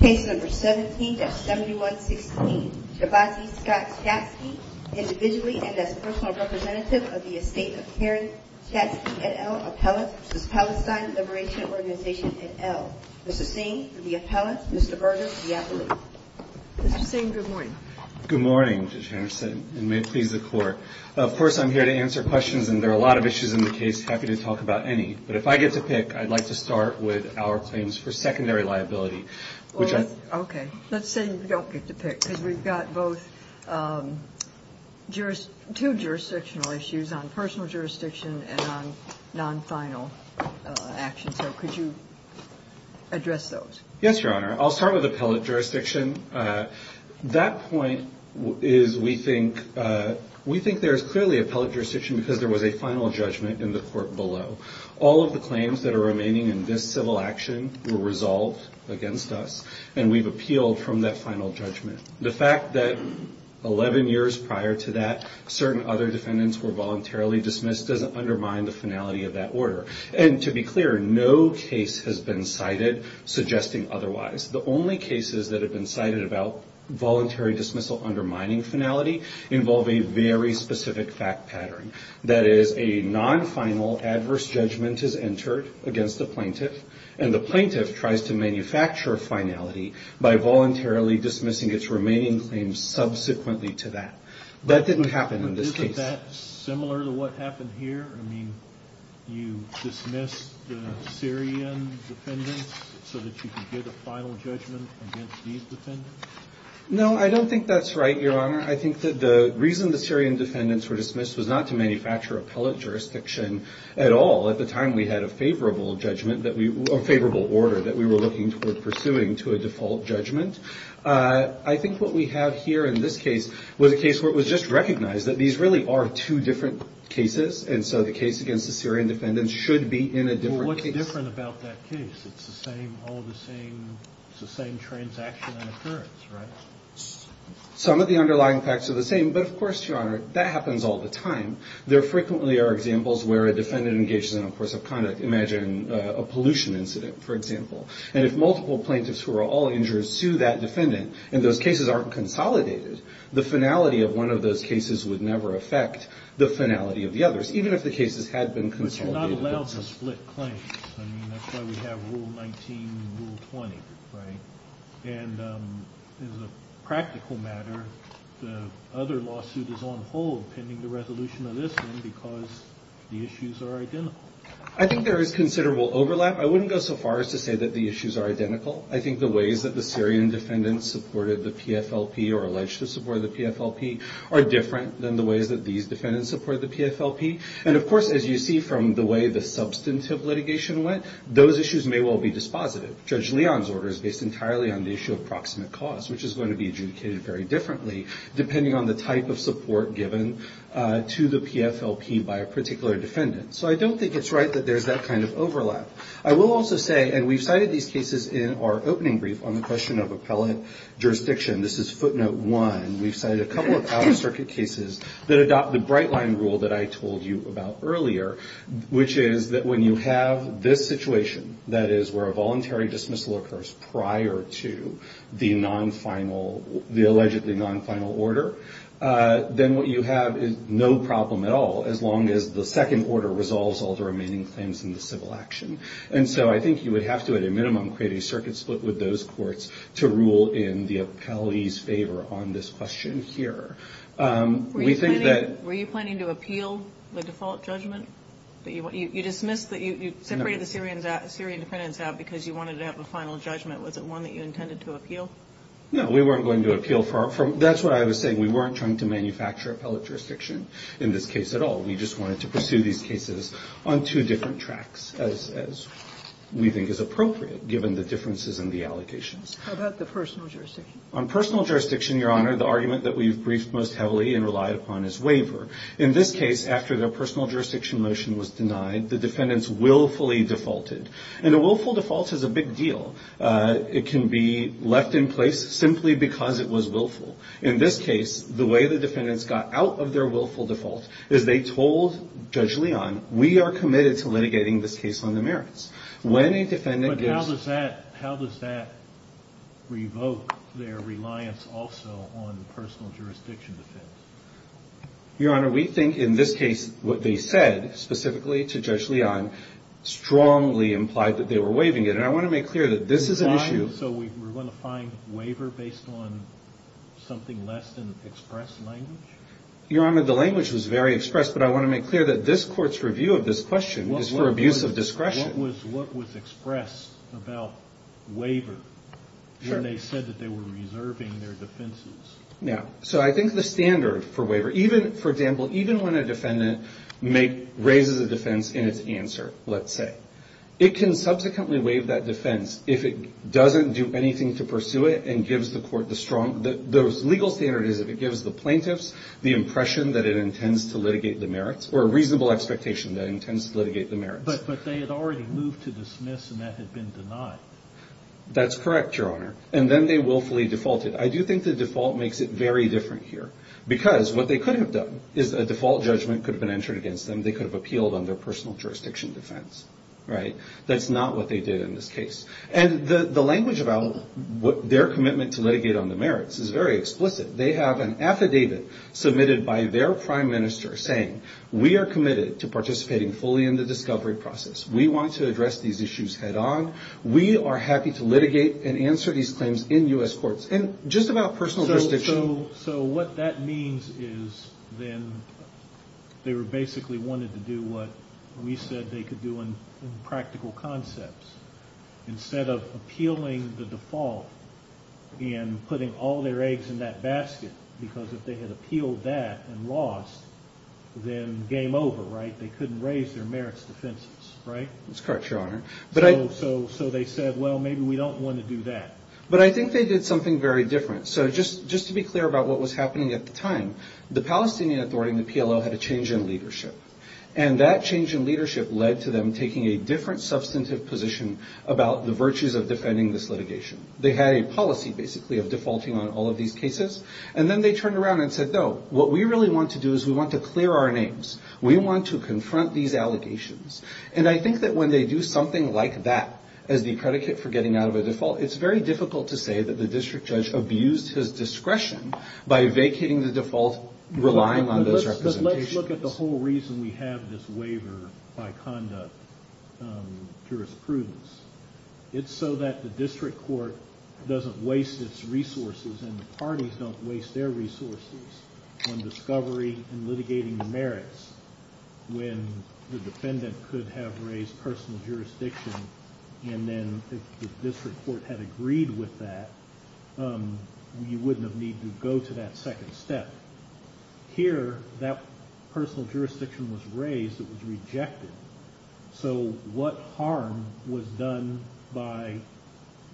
Case number 17-7116. Shabtai Scott Shatsky, individually and as personal representative of the estate of Karen Shatsky, et al., appellate for the Palestine Liberation Organization, et al. Mr. Singh, the appellate. Mr. Berger, the appellate. Mr. Singh, good morning. Good morning, Judge Henderson, and may it please the Court. Of course, I'm here to answer questions, and there are a lot of issues in the case. Happy to talk about any. But if I get to pick, I'd like to start with our claims for secondary liability. Okay. Let's say you don't get to pick, because we've got both two jurisdictional issues on personal jurisdiction and on non-final actions. So could you address those? Yes, Your Honor. I'll start with appellate jurisdiction. That point is we think there's clearly appellate jurisdiction because there was a final judgment in the court below. All of the claims that are remaining in this civil action were resolved against us, and we've appealed from that final judgment. The fact that 11 years prior to that, certain other defendants were voluntarily dismissed doesn't undermine the finality of that order. And to be clear, no case has been cited suggesting otherwise. The only cases that have been cited about voluntary dismissal undermining finality involve a very specific fact pattern. That is, a non-final adverse judgment is entered against the plaintiff, and the plaintiff tries to manufacture finality by voluntarily dismissing its remaining claims subsequently to that. That didn't happen in this case. Isn't that similar to what happened here? I mean, you dismissed the Syrian defendants so that you could get a final judgment against these defendants? No, I don't think that's right, Your Honor. I think that the reason the Syrian defendants were dismissed was not to manufacture appellate jurisdiction at all. At the time, we had a favorable order that we were looking toward pursuing to a default judgment. I think what we have here in this case was a case where it was just recognized that these really are two different cases, and so the case against the Syrian defendants should be in a different case. It's different about that case. It's the same, all the same, it's the same transaction and occurrence, right? Some of the underlying facts are the same, but of course, Your Honor, that happens all the time. There frequently are examples where a defendant engages in, of course, a conduct. Imagine a pollution incident, for example. And if multiple plaintiffs who are all injured sue that defendant, and those cases aren't consolidated, the finality of one of those cases would never affect the finality of the others, even if the cases had been consolidated. It's not allowed to split claims. I mean, that's why we have Rule 19 and Rule 20, right? And as a practical matter, the other lawsuit is on hold pending the resolution of this one because the issues are identical. I think there is considerable overlap. I wouldn't go so far as to say that the issues are identical. I think the ways that the Syrian defendants supported the PFLP or alleged to support the PFLP are different than the ways that these defendants support the PFLP. And of course, as you see from the way the substantive litigation went, those issues may well be dispositive. Judge Leon's order is based entirely on the issue of proximate cause, which is going to be adjudicated very differently depending on the type of support given to the PFLP by a particular defendant. So I don't think it's right that there's that kind of overlap. I will also say, and we've cited these cases in our opening brief on the question of appellate jurisdiction. This is footnote one. We've cited a couple of out-of-circuit cases that adopt the bright-line rule that I told you about earlier, which is that when you have this situation, that is, where a voluntary dismissal occurs prior to the allegedly non-final order, then what you have is no problem at all as long as the second order resolves all the remaining claims in the civil action. And so I think you would have to, at a minimum, create a circuit split with those courts to rule in the appellee's favor on this question here. Were you planning to appeal the default judgment? You dismissed that you separated the Syrian defendants out because you wanted to have a final judgment. Was it one that you intended to appeal? No, we weren't going to appeal. That's what I was saying. We weren't trying to manufacture appellate jurisdiction in this case at all. We just wanted to pursue these cases on two different tracks, as we think is appropriate, given the differences in the allocations. How about the personal jurisdiction? On personal jurisdiction, Your Honor, the argument that we've briefed most heavily and relied upon is waiver. In this case, after their personal jurisdiction motion was denied, the defendants willfully defaulted. And a willful default is a big deal. It can be left in place simply because it was willful. In this case, the way the defendants got out of their willful default is they told Judge Leon, we are committed to litigating this case on the merits. But how does that revoke their reliance also on personal jurisdiction defense? Your Honor, we think in this case what they said specifically to Judge Leon strongly implied that they were waiving it. And I want to make clear that this is an issue. So we're going to find waiver based on something less than expressed language? Your Honor, the language was very expressed. But I want to make clear that this Court's review of this question is for abuse of discretion. What was expressed about waiver when they said that they were reserving their defenses? Yeah. So I think the standard for waiver, for example, even when a defendant raises a defense in its answer, let's say, it can subsequently waive that defense if it doesn't do anything to pursue it and gives the Court the strong – the legal standard is if it gives the plaintiffs the impression that it intends to litigate the merits or a reasonable expectation that it intends to litigate the merits. But they had already moved to dismiss and that had been denied. That's correct, Your Honor. And then they willfully defaulted. I do think the default makes it very different here. Because what they could have done is a default judgment could have been entered against them. And they could have appealed on their personal jurisdiction defense, right? That's not what they did in this case. And the language about their commitment to litigate on the merits is very explicit. They have an affidavit submitted by their prime minister saying, we are committed to participating fully in the discovery process. We want to address these issues head on. We are happy to litigate and answer these claims in U.S. courts. And just about personal jurisdiction. So what that means is then they basically wanted to do what we said they could do in practical concepts. Instead of appealing the default and putting all their eggs in that basket, because if they had appealed that and lost, then game over, right? They couldn't raise their merits defenses, right? That's correct, Your Honor. So they said, well, maybe we don't want to do that. But I think they did something very different. So just to be clear about what was happening at the time, the Palestinian Authority and the PLO had a change in leadership. And that change in leadership led to them taking a different substantive position about the virtues of defending this litigation. They had a policy, basically, of defaulting on all of these cases. And then they turned around and said, no, what we really want to do is we want to clear our names. We want to confront these allegations. And I think that when they do something like that as the predicate for getting out of a default, it's very difficult to say that the district judge abused his discretion by vacating the default, relying on those representations. But let's look at the whole reason we have this waiver by conduct jurisprudence. It's so that the district court doesn't waste its resources and the parties don't waste their resources on discovery and litigating the merits when the defendant could have raised personal jurisdiction and then if the district court had agreed with that, you wouldn't have needed to go to that second step. Here, that personal jurisdiction was raised. It was rejected. So what harm was done by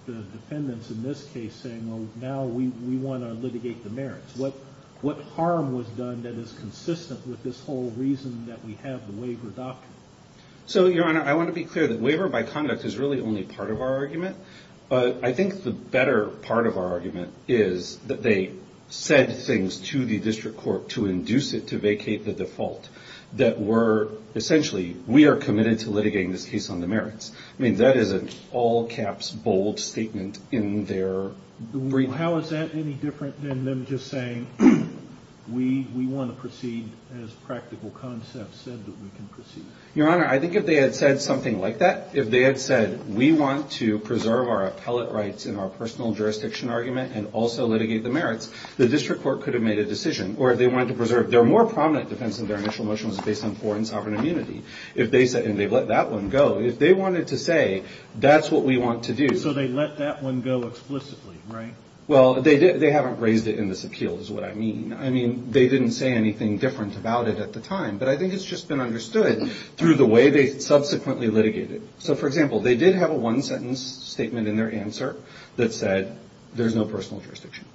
the defendants in this case saying, well, now we want to litigate the merits? What harm was done that is consistent with this whole reason that we have the waiver doctrine? So, Your Honor, I want to be clear that waiver by conduct is really only part of our argument. But I think the better part of our argument is that they said things to the district court to induce it to vacate the default that were essentially we are committed to litigating this case on the merits. I mean, that is an all-caps, bold statement in their brief. So how is that any different than them just saying we want to proceed as practical concepts said that we can proceed? Your Honor, I think if they had said something like that, if they had said we want to preserve our appellate rights in our personal jurisdiction argument and also litigate the merits, the district court could have made a decision. Or if they wanted to preserve, their more prominent defense of their initial motion was based on foreign sovereign immunity. If they said, and they've let that one go, if they wanted to say that's what we want to do. So they let that one go explicitly, right? Well, they haven't raised it in this appeal is what I mean. I mean, they didn't say anything different about it at the time. But I think it's just been understood through the way they subsequently litigated it. So, for example, they did have a one-sentence statement in their answer that said there's no personal jurisdiction.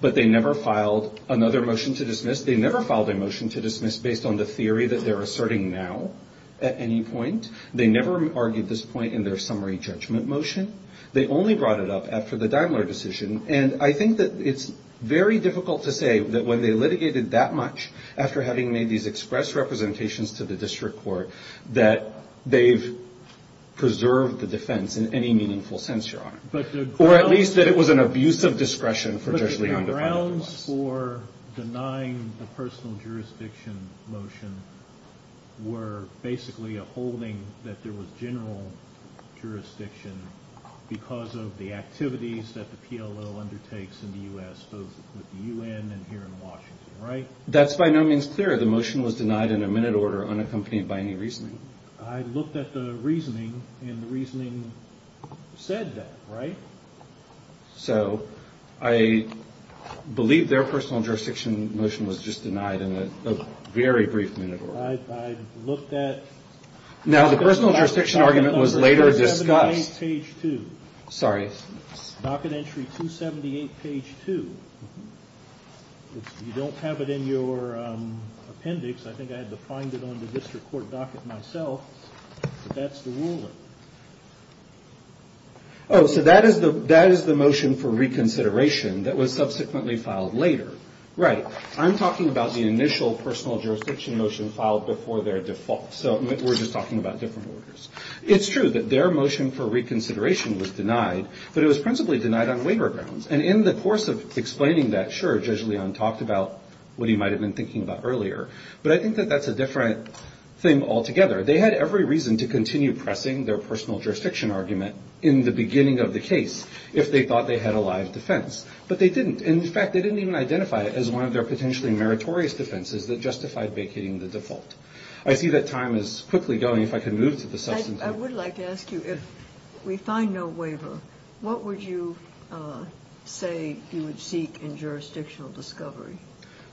But they never filed another motion to dismiss. They never filed a motion to dismiss based on the theory that they're asserting now at any point. They never argued this point in their summary judgment motion. They only brought it up after the Daimler decision. And I think that it's very difficult to say that when they litigated that much, after having made these express representations to the district court, that they've preserved the defense in any meaningful sense, Your Honor. Or at least that it was an abuse of discretion for Judge Levy to file it. The grounds for denying the personal jurisdiction motion were basically a holding that there was general jurisdiction because of the activities that the PLO undertakes in the U.S., both with the U.N. and here in Washington, right? That's by no means clear. The motion was denied in a minute order, unaccompanied by any reasoning. I looked at the reasoning, and the reasoning said that, right? So I believe their personal jurisdiction motion was just denied in a very brief minute order. I looked at... Now, the personal jurisdiction argument was later discussed. 278 page 2. Sorry. Docket entry 278 page 2. You don't have it in your appendix. I think I had to find it on the district court docket myself. But that's the ruling. Oh, so that is the motion for reconsideration that was subsequently filed later. Right. I'm talking about the initial personal jurisdiction motion filed before their default. So we're just talking about different orders. It's true that their motion for reconsideration was denied, but it was principally denied on waiver grounds. And in the course of explaining that, sure, Judge Leon talked about what he might have been thinking about earlier. But I think that that's a different thing altogether. They had every reason to continue pressing their personal jurisdiction argument in the beginning of the case if they thought they had a live defense. But they didn't. In fact, they didn't even identify it as one of their potentially meritorious defenses that justified vacating the default. I see that time is quickly going. If I could move to the subsequent... I would like to ask you, if we find no waiver, what would you say you would seek in jurisdictional discovery?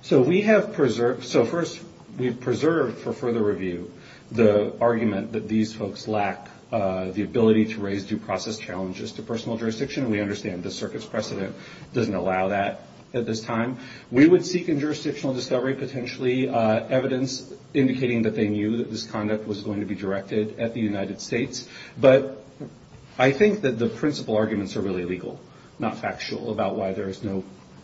So we have preserved... So first, we've preserved for further review the argument that these folks lack the ability to raise due process challenges to personal jurisdiction. We understand the circuit's precedent doesn't allow that at this time. We would seek in jurisdictional discovery potentially evidence indicating that they knew that this conduct was going to be directed at the United States. But I think that the principal arguments are really legal, not factual, about why there is no...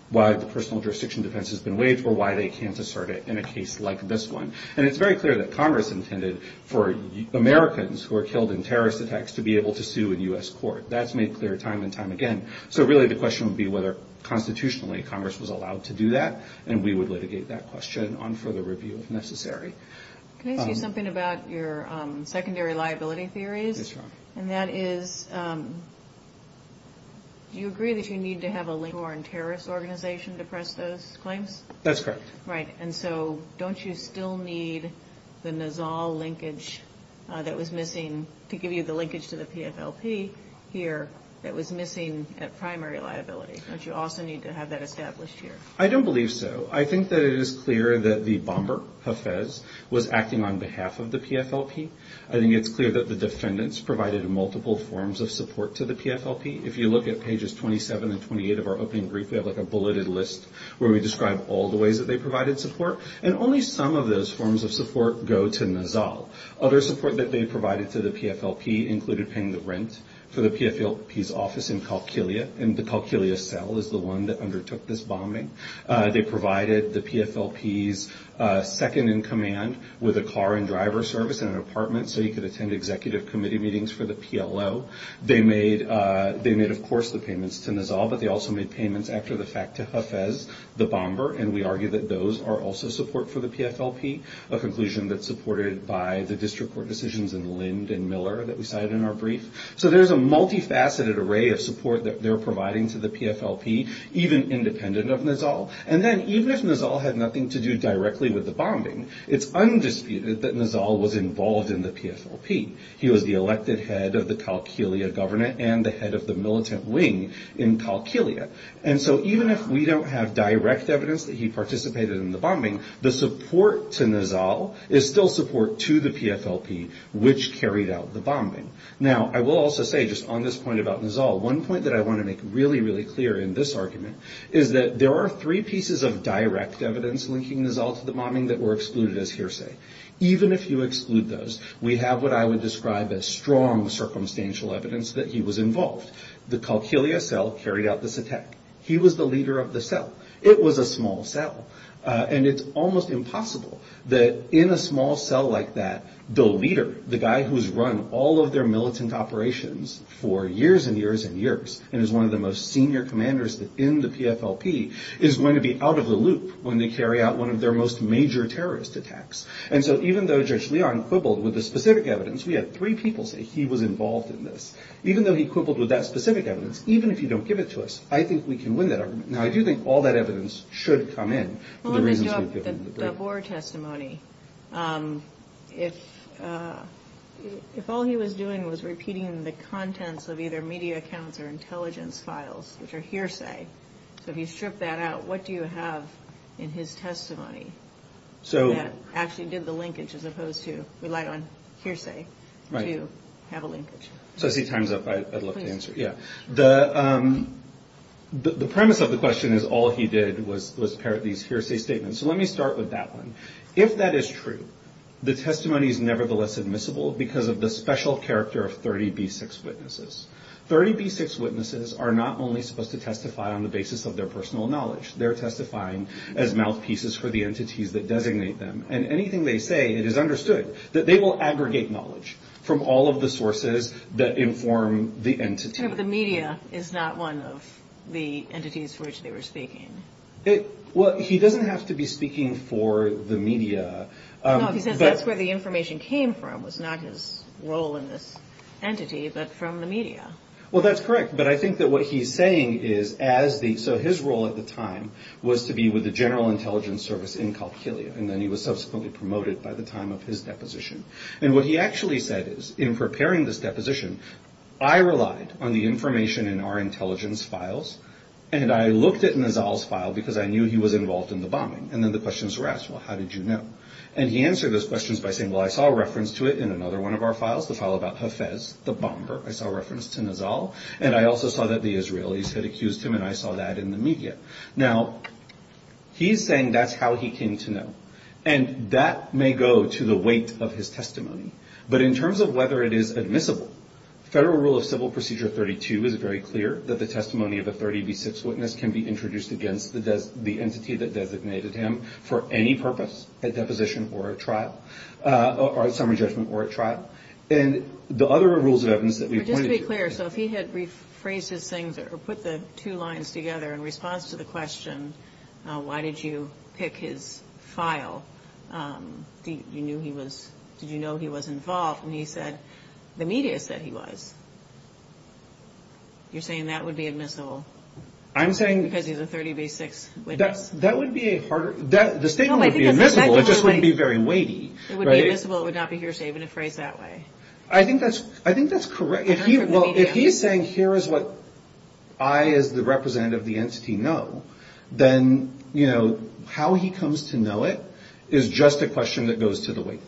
why the personal jurisdiction defense has been waived or why they can't assert it in a case like this one. And it's very clear that Congress intended for Americans who are killed in terrorist attacks to be able to sue in U.S. court. That's made clear time and time again. So really the question would be whether constitutionally Congress was allowed to do that, and we would litigate that question on further review if necessary. Can I ask you something about your secondary liability theories? Yes, Your Honor. And that is, do you agree that you need to have a link to a foreign terrorist organization to press those claims? That's correct. Right. And so don't you still need the Nizal linkage that was missing to give you the linkage to the PFLP here that was missing at primary liability? Don't you also need to have that established here? I don't believe so. I think that it is clear that the bomber, Hafez, was acting on behalf of the PFLP. I think it's clear that the defendants provided multiple forms of support to the PFLP. If you look at pages 27 and 28 of our opening brief, we have like a bulleted list where we describe all the ways that they provided support, and only some of those forms of support go to Nizal. Other support that they provided to the PFLP included paying the rent for the PFLP's office in Kalkilia, and the Kalkilia cell is the one that undertook this bombing. They provided the PFLP's second-in-command with a car and driver service and an apartment so he could attend executive committee meetings for the PLO. They made, of course, the payments to Nizal, but they also made payments after the fact to Hafez, the bomber, and we argue that those are also support for the PFLP, a conclusion that's supported by the district court decisions in Lind and Miller that we cited in our brief. So there's a multifaceted array of support that they're providing to the PFLP, even independent of Nizal, and then even if Nizal had nothing to do directly with the bombing, it's undisputed that Nizal was involved in the PFLP. He was the elected head of the Kalkilia government and the head of the militant wing in Kalkilia, and so even if we don't have direct evidence that he participated in the bombing, the support to Nizal is still support to the PFLP, which carried out the bombing. Now, I will also say just on this point about Nizal, one point that I want to make really, really clear in this argument is that there are three pieces of direct evidence linking Nizal to the bombing that were excluded as hearsay. Even if you exclude those, we have what I would describe as strong circumstantial evidence that he was involved. The Kalkilia cell carried out this attack. He was the leader of the cell. It was a small cell, and it's almost impossible that in a small cell like that, the leader, the guy who's run all of their militant operations for years and years and years and is one of the most senior commanders in the PFLP, is going to be out of the loop when they carry out one of their most major terrorist attacks. And so even though Judge Leon quibbled with the specific evidence, we had three people say he was involved in this. Even though he quibbled with that specific evidence, even if you don't give it to us, I think we can win that argument. Now, I do think all that evidence should come in for the reasons we've given. The Boer testimony, if all he was doing was repeating the contents of either media accounts or intelligence files, which are hearsay, so if you strip that out, what do you have in his testimony that actually did the linkage as opposed to relied on hearsay to have a linkage? As he times up, I'd love to answer. Please. The premise of the question is all he did was parrot these hearsay statements. So let me start with that one. If that is true, the testimony is nevertheless admissible because of the special character of 30B6 witnesses. 30B6 witnesses are not only supposed to testify on the basis of their personal knowledge. They're testifying as mouthpieces for the entities that designate them. And anything they say, it is understood that they will aggregate knowledge from all of the sources that inform the entity. But the media is not one of the entities for which they were speaking. Well, he doesn't have to be speaking for the media. No, he says that's where the information came from, was not his role in this entity, but from the media. Well, that's correct. But I think that what he's saying is, so his role at the time was to be with the General Intelligence Service in Calcillia, and then he was subsequently promoted by the time of his deposition. And what he actually said is, in preparing this deposition, I relied on the information in our intelligence files, and I looked at Nizal's file because I knew he was involved in the bombing. And then the questions were asked, well, how did you know? And he answered those questions by saying, well, I saw a reference to it in another one of our files, the file about Hafez, the bomber. I saw a reference to Nizal, and I also saw that the Israelis had accused him, and I saw that in the media. Now, he's saying that's how he came to know. And that may go to the weight of his testimony. But in terms of whether it is admissible, Federal Rule of Civil Procedure 32 is very clear that the testimony of a 30 v. 6 witness can be introduced against the entity that designated him for any purpose, a deposition or a trial, or a summary judgment or a trial. And the other rules of evidence that we pointed to. But just to be clear, so if he had rephrased his things or put the two lines together in response to the question, why did you pick his file? You knew he was, did you know he was involved when he said, the media said he was? You're saying that would be admissible? I'm saying. Because he's a 30 v. 6 witness. That would be a harder, the statement would be admissible, it just wouldn't be very weighty. It would be admissible, it would not be hearsay in a phrase that way. I think that's, I think that's correct. Well, if he's saying here is what I as the representative of the entity know, then, you know, how he comes to know it is just a question that goes to the weight.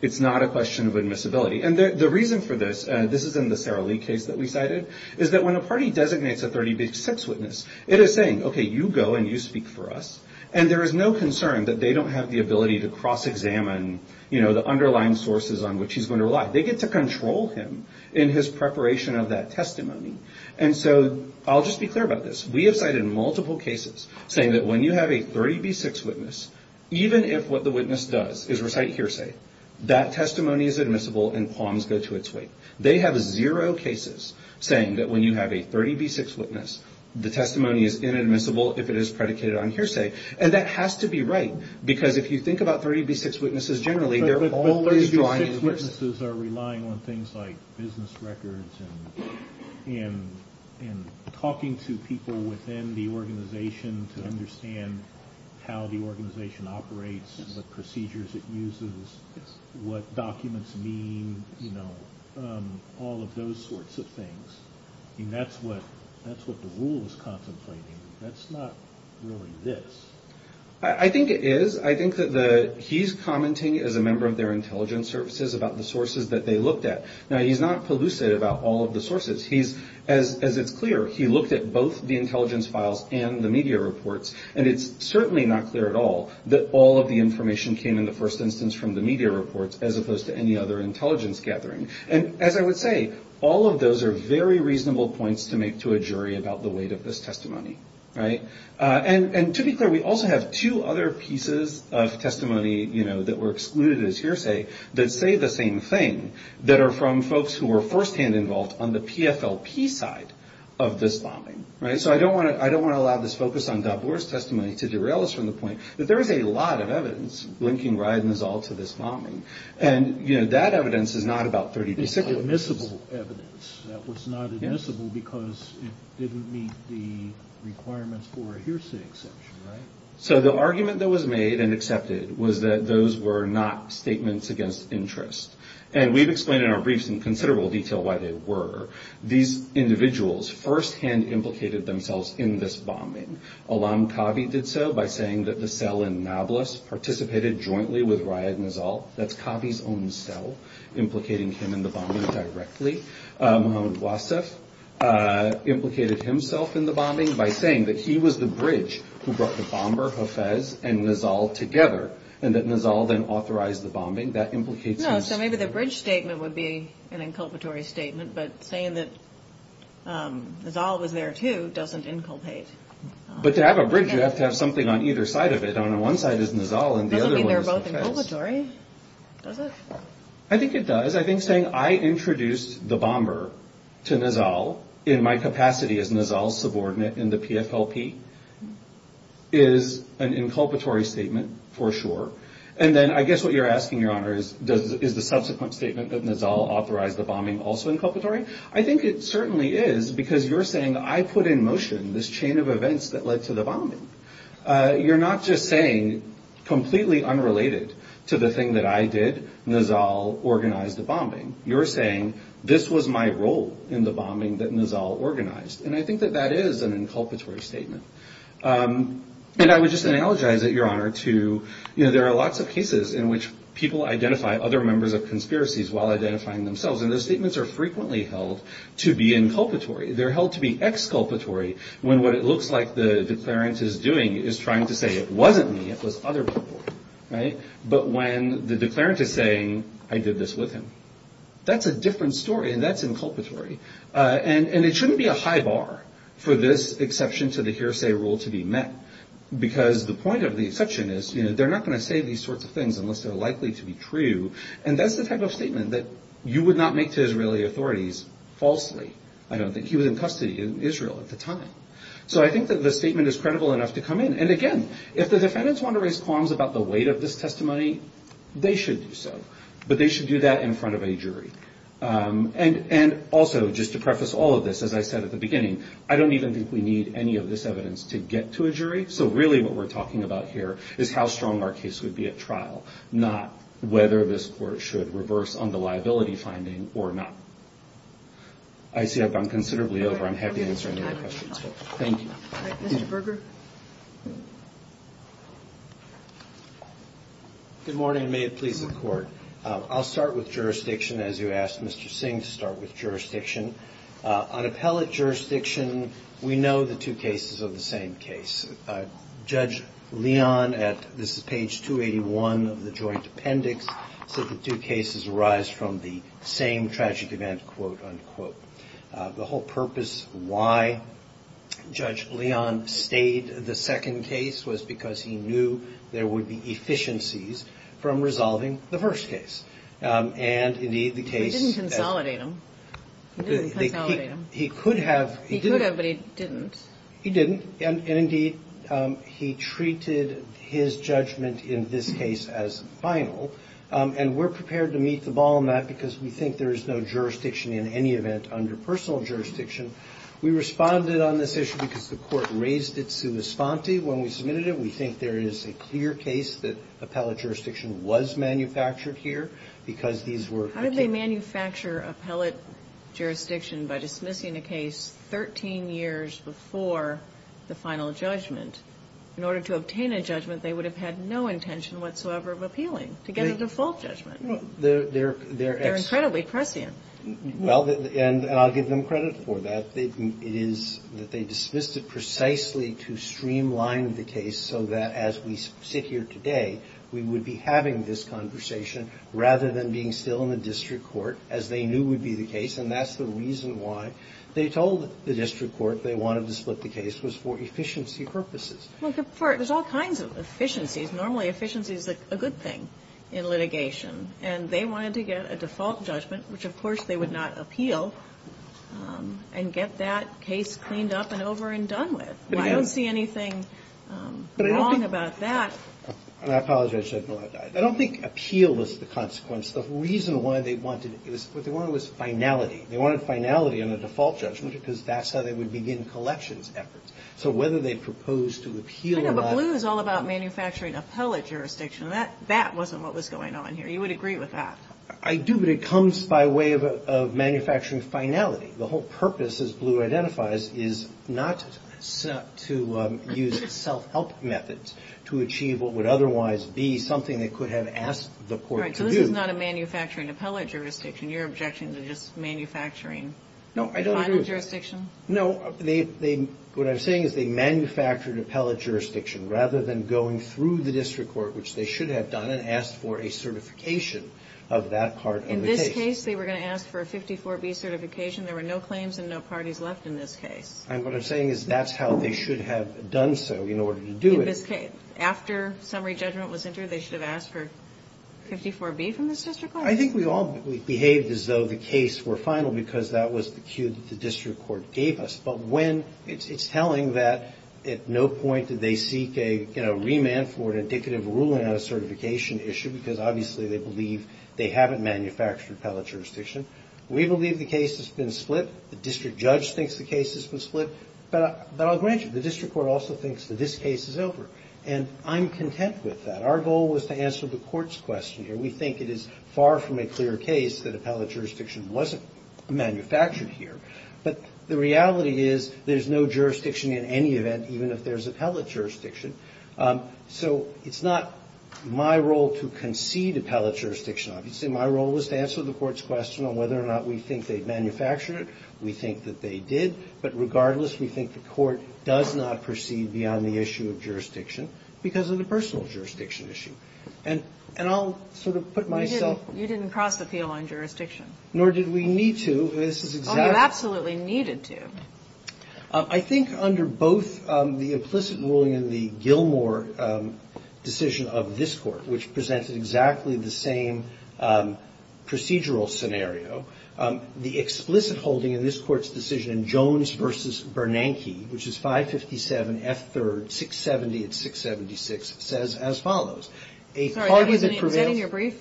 It's not a question of admissibility. And the reason for this, this is in the Sarah Lee case that we cited, is that when a party designates a 30 v. 6 witness, it is saying, okay, you go and you speak for us. And there is no concern that they don't have the ability to cross-examine, you know, the underlying sources on which he's going to rely. They get to control him in his preparation of that testimony. And so I'll just be clear about this. We have cited multiple cases saying that when you have a 30 v. 6 witness, even if what the witness does is recite hearsay, that testimony is admissible and qualms go to its weight. They have zero cases saying that when you have a 30 v. 6 witness, the testimony is inadmissible if it is predicated on hearsay. And that has to be right, because if you think about 30 v. 6 witnesses generally, they're always drawing a witness. The witnesses are relying on things like business records and talking to people within the organization to understand how the organization operates, what procedures it uses, what documents mean, you know, all of those sorts of things. I mean, that's what the rule is contemplating. That's not really this. I think it is. I think that he's commenting as a member of their intelligence services about the sources that they looked at. Now, he's not pellucid about all of the sources. As it's clear, he looked at both the intelligence files and the media reports, and it's certainly not clear at all that all of the information came in the first instance from the media reports, as opposed to any other intelligence gathering. And as I would say, all of those are very reasonable points to make to a jury about the weight of this testimony. Right? And to be clear, we also have two other pieces of testimony, you know, that were excluded as hearsay that say the same thing, that are from folks who were firsthand involved on the PFLP side of this bombing. Right? So I don't want to allow this focus on Dabur's testimony to derail us from the point that there is a lot of evidence linking Ryan Nizal to this bombing. And, you know, that evidence is not about 30 v. 6. That was admissible evidence. That was not admissible because it didn't meet the requirements for a hearsay exception. Right? So the argument that was made and accepted was that those were not statements against interest. And we've explained in our briefs in considerable detail why they were. These individuals firsthand implicated themselves in this bombing. Alam Khabi did so by saying that the cell in Nablus participated jointly with Ryan Nizal. That's Khabi's own cell implicating him in the bombing directly. Mohammad Wasif implicated himself in the bombing by saying that he was the bridge who brought the bomber, Hafez, and Nizal together, and that Nizal then authorized the bombing. That implicates himself. No, so maybe the bridge statement would be an inculpatory statement, but saying that Nizal was there, too, doesn't inculpate. But to have a bridge, you have to have something on either side of it. One side is Nizal, and the other one is Hafez. Does it mean they're both inculpatory? Does it? I think it does. I think saying I introduced the bomber to Nizal in my capacity as Nizal's subordinate in the PFLP is an inculpatory statement for sure. And then I guess what you're asking, Your Honor, is the subsequent statement that Nizal authorized the bombing also inculpatory? I think it certainly is because you're saying I put in motion this chain of events that led to the bombing. You're not just saying completely unrelated to the thing that I did, Nizal organized the bombing. You're saying this was my role in the bombing that Nizal organized, and I think that that is an inculpatory statement. And I would just analogize it, Your Honor, to, you know, there are lots of cases in which people identify other members of conspiracies while identifying themselves, and those statements are frequently held to be inculpatory. They're held to be exculpatory when what it looks like the declarant is doing is trying to say it wasn't me, it was other people, right? But when the declarant is saying I did this with him, that's a different story, and that's inculpatory. And it shouldn't be a high bar for this exception to the hearsay rule to be met, because the point of the exception is, you know, they're not going to say these sorts of things unless they're likely to be true, and that's the type of statement that you would not make to Israeli authorities falsely. I don't think he was in custody in Israel at the time. So I think that the statement is credible enough to come in. And, again, if the defendants want to raise qualms about the weight of this testimony, they should do so, but they should do that in front of a jury. And also, just to preface all of this, as I said at the beginning, I don't even think we need any of this evidence to get to a jury, so really what we're talking about here is how strong our case would be at trial, not whether this court should reverse on the liability finding or not. I see I've gone considerably over. I'm happy to answer any other questions. Thank you. All right. Mr. Berger? Good morning, and may it please the Court. I'll start with jurisdiction, as you asked Mr. Singh to start with jurisdiction. On appellate jurisdiction, we know the two cases are the same case. Judge Leon at this is page 281 of the joint appendix said the two cases arise from the same tragic event, quote, unquote. The whole purpose why Judge Leon stayed the second case was because he knew there would be efficiencies from resolving the first case. And, indeed, the case- He didn't consolidate them. He didn't consolidate them. He could have. He could have, but he didn't. He didn't. And, indeed, he treated his judgment in this case as final, and we're prepared to meet the ball on that because we think there is no jurisdiction in any event under personal jurisdiction. We responded on this issue because the Court raised it sua sponte when we submitted it. We think there is a clear case that appellate jurisdiction was manufactured here because these were- How did they manufacture appellate jurisdiction by dismissing a case 13 years before the final judgment? In order to obtain a judgment, they would have had no intention whatsoever of appealing to get a default judgment. They're- They're incredibly prescient. Well, and I'll give them credit for that. It is that they dismissed it precisely to streamline the case so that as we sit here today, we would be having this conversation rather than being still in the district court, as they knew would be the case. And that's the reason why they told the district court they wanted to split the case was for efficiency purposes. Well, there's all kinds of efficiencies. Normally efficiency is a good thing in litigation. And they wanted to get a default judgment, which of course they would not appeal, and get that case cleaned up and over and done with. I don't see anything wrong about that. I apologize. I don't think appeal was the consequence. The reason why they wanted it, what they wanted was finality. They wanted finality in the default judgment because that's how they would begin collections efforts. So whether they proposed to appeal or not- But Blue is all about manufacturing appellate jurisdiction. That wasn't what was going on here. You would agree with that. I do, but it comes by way of manufacturing finality. The whole purpose, as Blue identifies, is not to use self-help methods to achieve what would otherwise be something they could have asked the court to do. Right. So this is not a manufacturing appellate jurisdiction. Your objections are just manufacturing- No, I don't agree. A final jurisdiction? No. What I'm saying is they manufactured appellate jurisdiction rather than going through the district court, which they should have done, and asked for a certification of that part of the case. In this case, they were going to ask for a 54B certification. There were no claims and no parties left in this case. And what I'm saying is that's how they should have done so in order to do it. In this case, after summary judgment was entered, they should have asked for 54B from this district court? I think we all behaved as though the case were final because that was the cue that the district court gave us. But when it's telling that at no point did they seek a, you know, remand for an indicative ruling on a certification issue because obviously they believe they haven't manufactured appellate jurisdiction. We believe the case has been split. The district judge thinks the case has been split. But I'll grant you, the district court also thinks that this case is over. And I'm content with that. Our goal was to answer the court's question here. We think it is far from a clear case that appellate jurisdiction wasn't manufactured here, but the reality is there's no jurisdiction in any event, even if there's appellate jurisdiction. So it's not my role to concede appellate jurisdiction. Obviously, my role was to answer the court's question on whether or not we think they've manufactured it. We think that they did. But regardless, we think the court does not proceed beyond the issue of jurisdiction because of the personal jurisdiction issue. And I'll sort of put myself aside. You didn't cross the field on jurisdiction. Nor did we need to. So this is exactly the case. Oh, you absolutely needed to. I think under both the implicit ruling in the Gilmore decision of this Court, which presented exactly the same procedural scenario, the explicit holding in this Court's decision in Jones v. Bernanke, which is 557 F. 3rd. 670 at 676, says as follows. A party that prevails. Is that in your brief?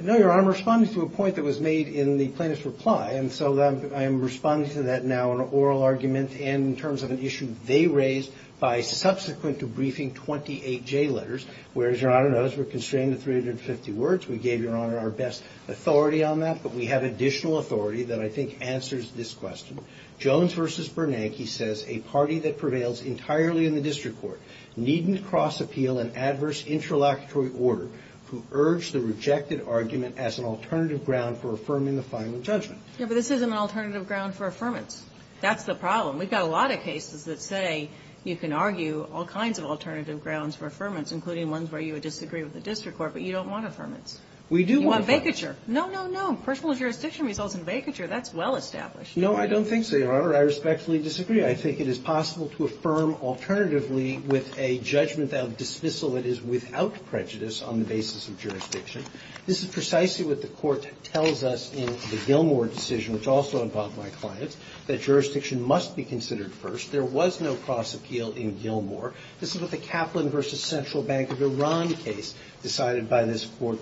No, Your Honor. But I'm responding to a point that was made in the plaintiff's reply. And so I am responding to that now in an oral argument and in terms of an issue they raised by subsequent to briefing 28 J letters. Whereas, Your Honor, those were constrained to 350 words. We gave Your Honor our best authority on that. But we have additional authority that I think answers this question. Jones v. Bernanke says a party that prevails entirely in the district court needn't cross appeal an adverse interlocutory order who urged the rejected argument as an alternative ground for affirming the final judgment. Yeah, but this isn't an alternative ground for affirmance. That's the problem. We've got a lot of cases that say you can argue all kinds of alternative grounds for affirmance, including ones where you would disagree with the district court, but you don't want affirmance. We do want affirmance. You want vacature. No, no, no. Personal jurisdiction results in vacature. That's well established. No, I don't think so, Your Honor. I respectfully disagree. I think it is possible to affirm alternatively with a judgment that would dismissal it as without prejudice on the basis of jurisdiction. This is precisely what the court tells us in the Gilmore decision, which also involved my clients, that jurisdiction must be considered first. There was no cross appeal in Gilmore. This is what the Kaplan v. Central Bank of Iran case decided by this court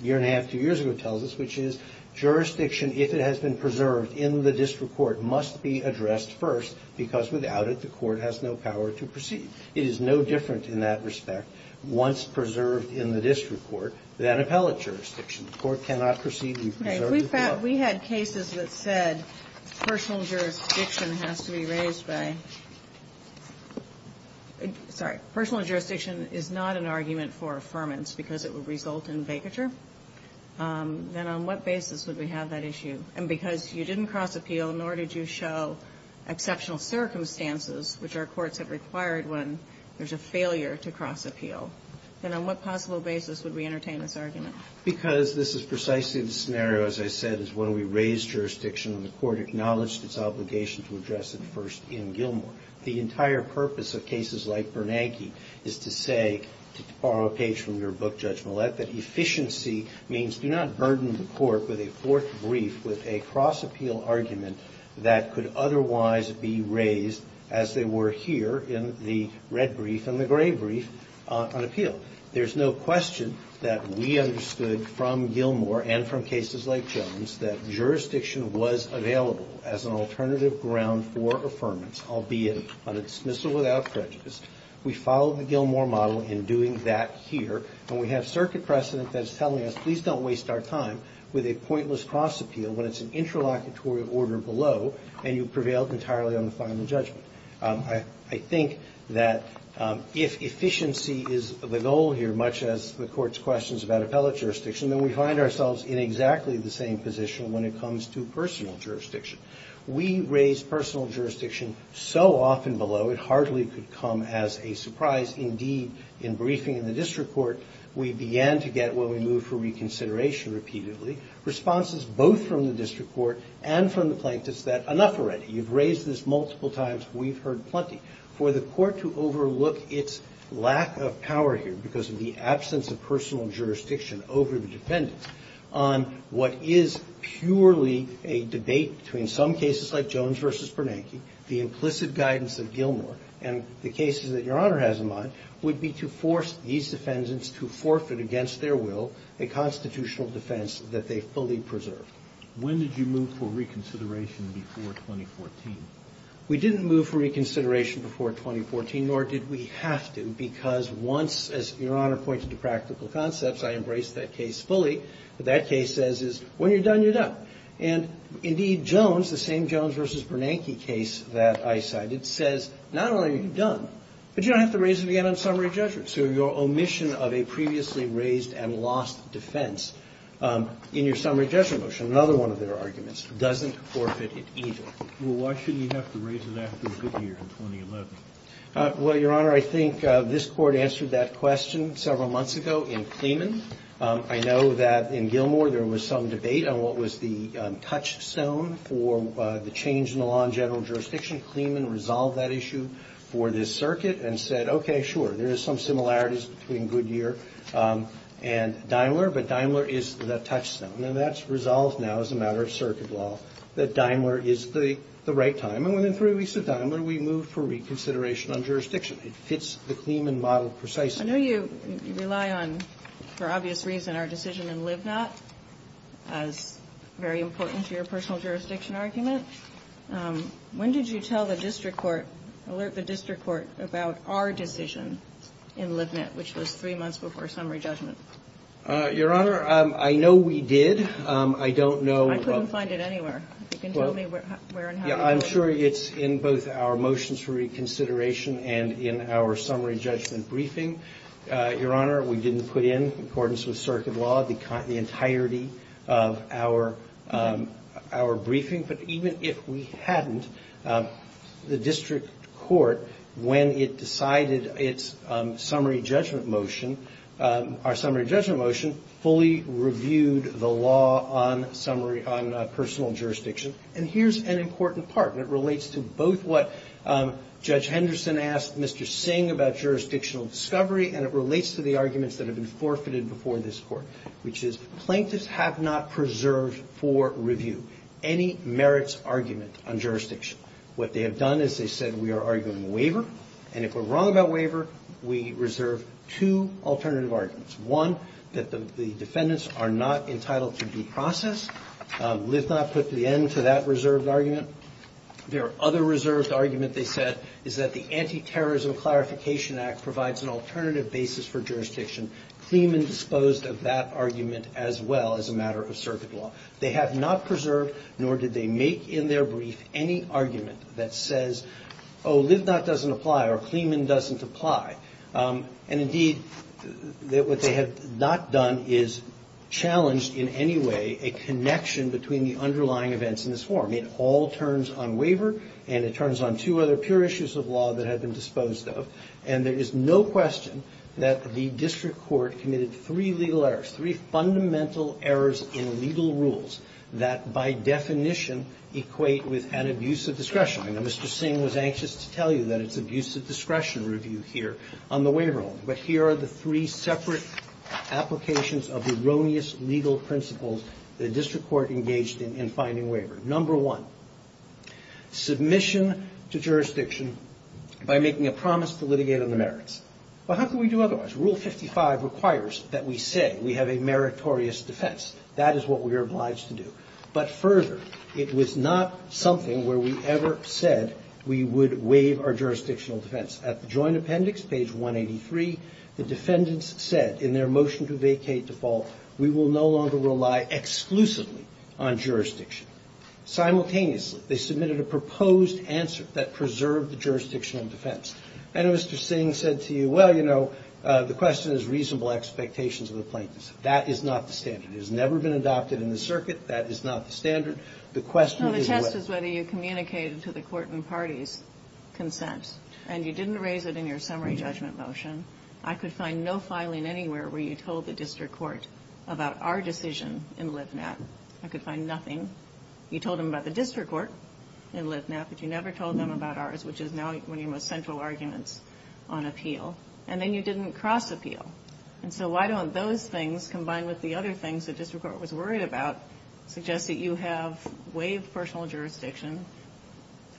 a year and a half, two years ago tells us, which is jurisdiction, if it has been preserved in the district court, must be addressed first because without it, the court has no power to proceed. It is no different in that respect. Once preserved in the district court, then appellate jurisdiction. The court cannot proceed and preserve the court. Right. We had cases that said personal jurisdiction has to be raised by, sorry, personal jurisdiction is not an argument for affirmance because it would result in vacature. Then on what basis would we have that issue? And because you didn't cross appeal, nor did you show exceptional circumstances, which our courts have required when there's a failure to cross appeal, then on what possible basis would we entertain this argument? Because this is precisely the scenario, as I said, is when we raise jurisdiction and the court acknowledged its obligation to address it first in Gilmore. The entire purpose of cases like Bernanke is to say, to borrow a page from your book, Judge Millett, that efficiency means do not burden the court with a fourth brief with a cross appeal argument that could otherwise be raised as they were here in the red brief and the gray brief on appeal. There's no question that we understood from Gilmore and from cases like Jones that jurisdiction was available as an alternative ground for affirmance, albeit on dismissal without prejudice. We followed the Gilmore model in doing that here. And we have circuit precedent that's telling us, please don't waste our time with a judgment when it's an interlocutory order below and you've prevailed entirely on the final judgment. I think that if efficiency is the goal here, much as the Court's questions about appellate jurisdiction, then we find ourselves in exactly the same position when it comes to personal jurisdiction. We raise personal jurisdiction so often below it hardly could come as a surprise. Indeed, in briefing in the district court, we began to get, when we moved for reconsideration repeatedly, responses both from the district court and from the plaintiffs that enough already. You've raised this multiple times. We've heard plenty. For the court to overlook its lack of power here because of the absence of personal jurisdiction over the defendants on what is purely a debate between some cases like Jones v. Bernanke, the implicit guidance of Gilmore, and the cases that Your Honor has in mind, would be to force these defendants to forfeit against their will a constitutional defense that they fully preserve. When did you move for reconsideration before 2014? We didn't move for reconsideration before 2014, nor did we have to, because once, as Your Honor pointed to practical concepts, I embraced that case fully. What that case says is when you're done, you're done. And, indeed, Jones, the same Jones v. Bernanke case that I cited, says not only are you done, but you don't have to raise it again on summary judgment. So your omission of a previously raised and lost defense in your summary judgment motion, another one of their arguments, doesn't forfeit it either. Well, why shouldn't you have to raise it after a good year in 2011? Well, Your Honor, I think this Court answered that question several months ago in Clemen. I know that in Gilmore there was some debate on what was the touchstone for the change in the law in general jurisdiction. Clemen resolved that issue for this circuit and said, okay, sure, there is some similarities between good year and Daimler, but Daimler is the touchstone. And that's resolved now as a matter of circuit law, that Daimler is the right time. And within three weeks of Daimler, we moved for reconsideration on jurisdiction. It fits the Clemen model precisely. I know you rely on, for obvious reason, our decision in Livnot as very important to your personal jurisdiction argument. When did you tell the district court, alert the district court about our decision in Livnot, which was three months before summary judgment? Your Honor, I know we did. I don't know. I couldn't find it anywhere. You can tell me where and how you got it. I'm sure it's in both our motions for reconsideration and in our summary judgment briefing. Your Honor, we didn't put in, in accordance with circuit law, the entirety of our briefing. But even if we hadn't, the district court, when it decided its summary judgment motion, our summary judgment motion, fully reviewed the law on summary, on personal jurisdiction. And here's an important part, and it relates to both what Judge Henderson asked Mr. Singh about jurisdictional discovery, and it relates to the arguments that merits argument on jurisdiction. What they have done is they said, we are arguing a waiver. And if we're wrong about waiver, we reserve two alternative arguments. One, that the defendants are not entitled to due process. Livnot put the end to that reserved argument. Their other reserved argument, they said, is that the Anti-Terrorism Clarification Act provides an alternative basis for jurisdiction. Kleeman disposed of that argument as well as a matter of circuit law. They have not preserved, nor did they make in their brief, any argument that says, oh, Livnot doesn't apply, or Kleeman doesn't apply. And, indeed, what they have not done is challenged in any way a connection between the underlying events in this form. It all turns on waiver, and it turns on two other pure issues of law that have been disposed of. And there is no question that the district court committed three legal errors, three fundamental errors in legal rules that, by definition, equate with an abuse of discretion. I know Mr. Singh was anxious to tell you that it's abuse of discretion review here on the waiver only. But here are the three separate applications of erroneous legal principles the district court engaged in in finding waiver. Number one, submission to jurisdiction by making a promise to litigate on the merits. But how can we do otherwise? Rule 55 requires that we say we have a meritorious defense. That is what we are obliged to do. But, further, it was not something where we ever said we would waive our jurisdictional defense. At the joint appendix, page 183, the defendants said in their motion to vacate default, we will no longer rely exclusively on jurisdiction. Simultaneously, they submitted a proposed answer that preserved the jurisdictional defense. I know Mr. Singh said to you, well, you know, the question is reasonable expectations of the plaintiffs. That is not the standard. It has never been adopted in the circuit. That is not the standard. The question is whether you communicated to the court and parties consent. And you didn't raise it in your summary judgment motion. I could find no filing anywhere where you told the district court about our decision in LIVNet. I could find nothing. You told them about the district court in LIVNet, but you never told them about ours, which is now one of your most central arguments on appeal. And then you didn't cross-appeal. And so why don't those things, combined with the other things the district court was worried about, suggest that you have waived personal jurisdiction,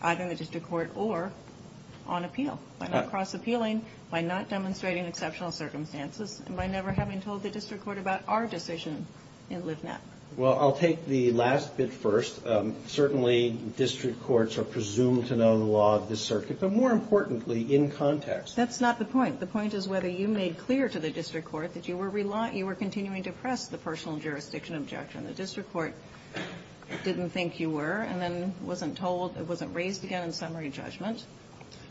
either in the district court or on appeal, by not cross-appealing, by not demonstrating exceptional circumstances, and by never having told the district court about our decision in LIVNet? Well, I'll take the last bit first. Certainly district courts are presumed to know the law of this circuit, but more importantly, in context. That's not the point. The point is whether you made clear to the district court that you were continuing to press the personal jurisdiction objection. The district court didn't think you were, and then wasn't told, wasn't raised again in summary judgment.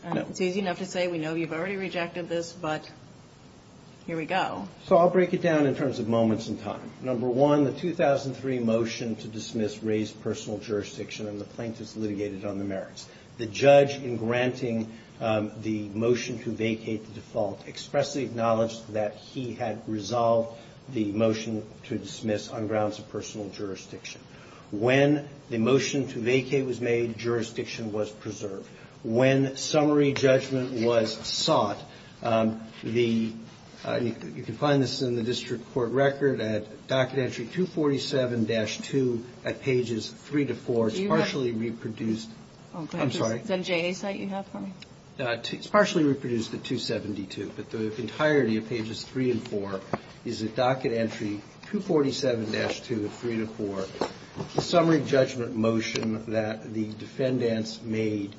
No. It's easy enough to say, we know you've already rejected this, but here we go. So I'll break it down in terms of moments in time. Number one, the 2003 motion to dismiss raised personal jurisdiction, and the plaintiffs litigated on the merits. The judge, in granting the motion to vacate the default, expressly acknowledged that he had resolved the motion to dismiss on grounds of personal jurisdiction. When the motion to vacate was made, jurisdiction was preserved. When summary judgment was sought, the you can find this in the district court record at docket entry 247-2 at pages 3 to 4. It's partially reproduced. I'm sorry. Is that a JNA site you have for me? It's partially reproduced at 272, but the entirety of pages 3 and 4 is at docket entry 247-2 of 3 to 4. The summary judgment motion that the defendants made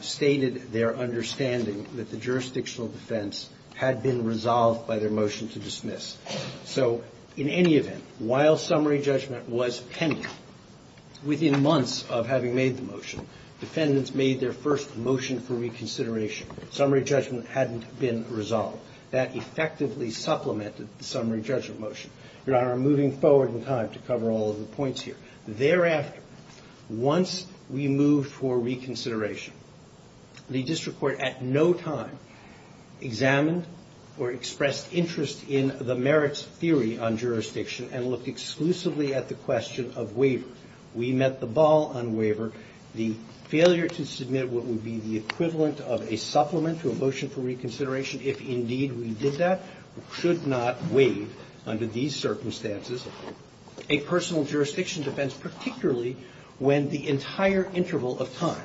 stated their understanding that the jurisdictional defense had been resolved by their motion to dismiss. So in any event, while summary judgment was pending, within months of having made the motion, defendants made their first motion for reconsideration. Summary judgment hadn't been resolved. That effectively supplemented the summary judgment motion. Your Honor, I'm moving forward in time to cover all of the points here. Thereafter, once we moved for reconsideration, the district court at no time examined or expressed interest in the merits theory on jurisdiction and looked exclusively at the question of waiver. We met the ball on waiver. The failure to submit what would be the equivalent of a supplement to a motion for reconsideration, if indeed we did that, should not waive under these circumstances a personal jurisdiction defense, particularly when the entire interval of time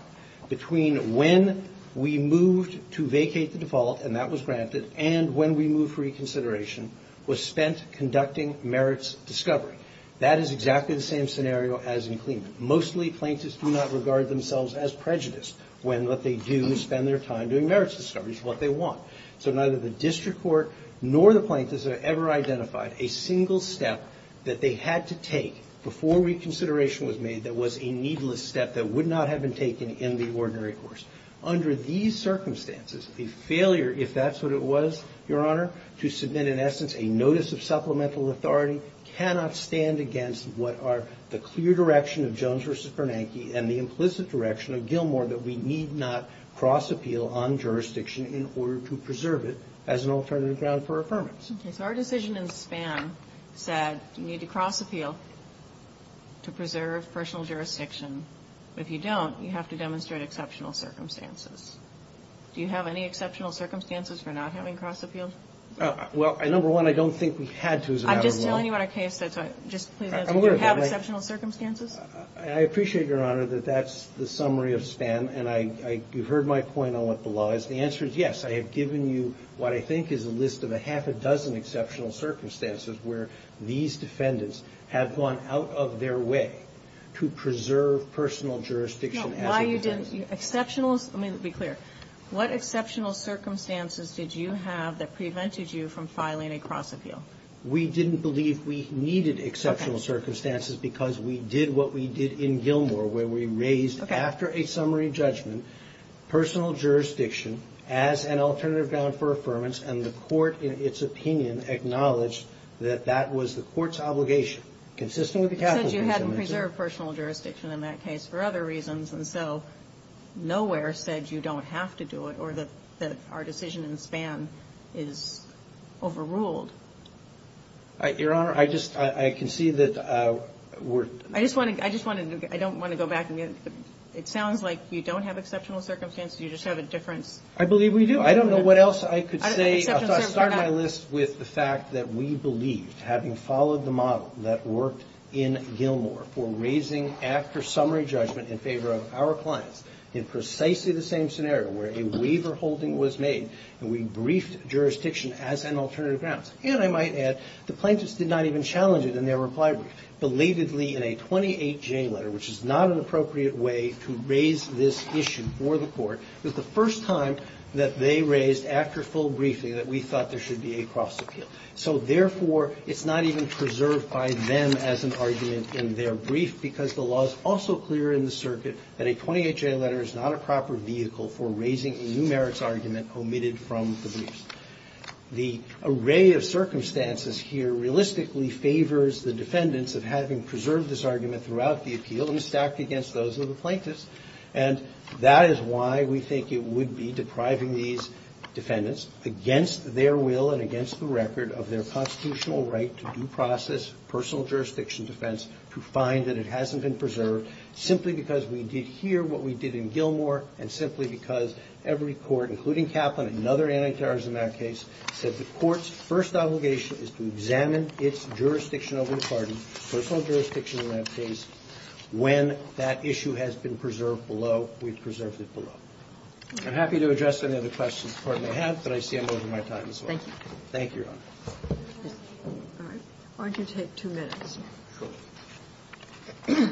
between when we moved to vacate the default, and that was granted, and when we moved for reconsideration was spent conducting merits discovery. That is exactly the same scenario as in Clement. Mostly, plaintiffs do not regard themselves as prejudiced when what they do is spend their time doing merits discovery, which is what they want. So neither the district court nor the plaintiffs have ever identified a single step that they had to take before reconsideration was made that was a needless step that would not have been taken in the ordinary course. Under these circumstances, a failure, if that's what it was, Your Honor, to submit in essence a notice of supplemental authority cannot stand against what are the clear direction of Jones v. Bernanke and the implicit direction of Gilmour that we need not cross appeal on jurisdiction in order to preserve it as an alternative ground for affirmance. Okay. So our decision in Spann said you need to cross appeal to preserve personal jurisdiction. If you don't, you have to demonstrate exceptional circumstances. Do you have any exceptional circumstances for not having cross appealed? Well, number one, I don't think we had to as a matter of law. I'm just telling you what our case says. Just please answer. Do you have exceptional circumstances? I appreciate, Your Honor, that that's the summary of Spann, and you've heard my point on what the law is. The answer is yes. I have given you what I think is a list of a half a dozen exceptional circumstances where these defendants have gone out of their way to preserve personal jurisdiction as a defense. No, why you didn't, exceptional, let me be clear, what exceptional circumstances did you have that prevented you from filing a cross appeal? We didn't believe we needed exceptional circumstances because we did what we did in Gilmour where we raised after a summary judgment personal jurisdiction as an alternative and the court in its opinion acknowledged that that was the court's obligation. Consisting of the Catholic... You said you hadn't preserved personal jurisdiction in that case for other reasons, and so nowhere said you don't have to do it or that our decision in Spann is overruled. Your Honor, I just, I can see that we're... I just want to, I just want to, I don't want to go back and get, it sounds like you don't have exceptional circumstances. You just have a difference. I believe we do. I don't know what else I could say. I'll start my list with the fact that we believed, having followed the model that worked in Gilmour for raising after summary judgment in favor of our clients in precisely the same scenario where a waiver holding was made and we briefed jurisdiction as an alternative grounds. And I might add the plaintiffs did not even challenge it in their reply brief. Belatedly in a 28-J letter, which is not an appropriate way to raise this issue for the plaintiffs, they raised after full briefing that we thought there should be a cross appeal. So therefore, it's not even preserved by them as an argument in their brief because the law is also clear in the circuit that a 28-J letter is not a proper vehicle for raising a numerics argument omitted from the briefs. The array of circumstances here realistically favors the defendants of having preserved this argument throughout the appeal and stacked against those of the plaintiffs. And that is why we think it would be depriving these defendants against their will and against the record of their constitutional right to due process personal jurisdiction defense to find that it hasn't been preserved simply because we did hear what we did in Gilmour and simply because every court, including Kaplan and other anti-terrorism act case, said the court's first obligation is to examine its jurisdiction over the And that's not a case that we've preserved below. We've preserved it below. I'm happy to address any other questions the Court may have, but I see I'm over my time as well. Thank you. Thank you, Your Honor. All right. Why don't you take two minutes? Sure.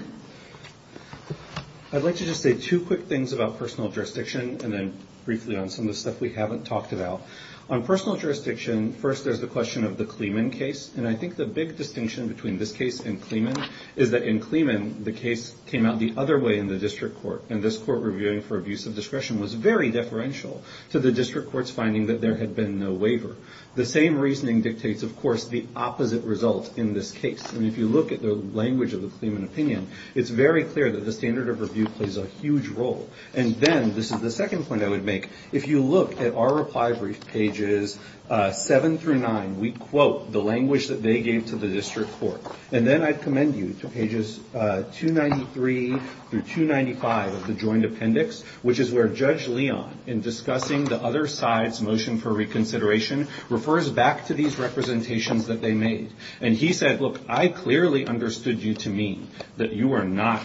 I'd like to just say two quick things about personal jurisdiction and then briefly on some of the stuff we haven't talked about. On personal jurisdiction, first there's the question of the Clemen case. And I think the big distinction between this case and Clemen is that in Clemen, the case came out the other way in the district court. And this court reviewing for abuse of discretion was very deferential to the district court's finding that there had been no waiver. The same reasoning dictates, of course, the opposite result in this case. And if you look at the language of the Clemen opinion, it's very clear that the standard of review plays a huge role. And then this is the second point I would make. If you look at our reply brief pages 7 through 9, we quote the language that they gave to the district court. And then I'd commend you to pages 293 through 295 of the joint appendix, which is where Judge Leon, in discussing the other side's motion for reconsideration, refers back to these representations that they made. And he said, look, I clearly understood you to mean that you are not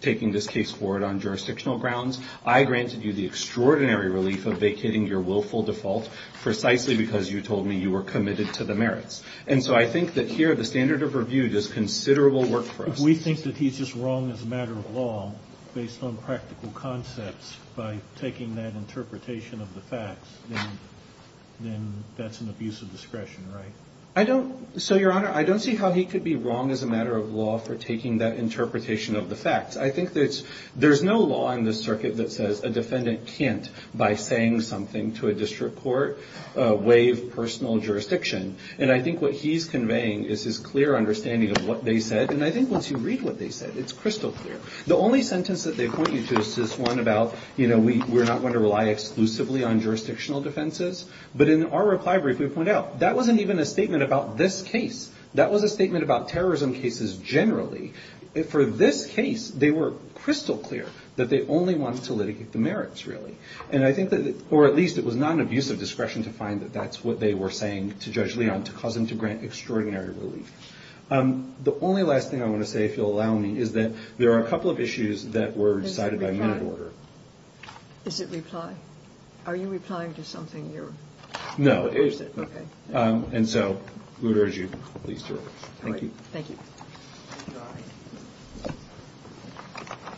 taking this case forward on jurisdictional grounds. I granted you the extraordinary relief of vacating your willful default precisely because you told me you were committed to the merits. And so I think that here the standard of review does considerable work for us. If we think that he's just wrong as a matter of law based on practical concepts by taking that interpretation of the facts, then that's an abuse of discretion, right? I don't. So, Your Honor, I don't see how he could be wrong as a matter of law for taking that interpretation of the facts. I think that there's no law in this circuit that says a defendant can't, by saying something to a district court, waive personal jurisdiction. And I think what he's conveying is his clear understanding of what they said. And I think once you read what they said, it's crystal clear. The only sentence that they point you to is this one about, you know, we're not going to rely exclusively on jurisdictional defenses. But in our reply brief, we point out that wasn't even a statement about this case. That was a statement about terrorism cases generally. For this case, they were crystal clear that they only wanted to litigate the merits, really. And I think that, or at least it was not an abuse of discretion to find that that's what they were saying to Judge Leon, to cause him to grant extraordinary relief. The only last thing I want to say, if you'll allow me, is that there are a couple of issues that were decided by minute order. Is it reply? Are you replying to something you're? No. Is it? Okay. And so, I would urge you, please do. Thank you. Thank you.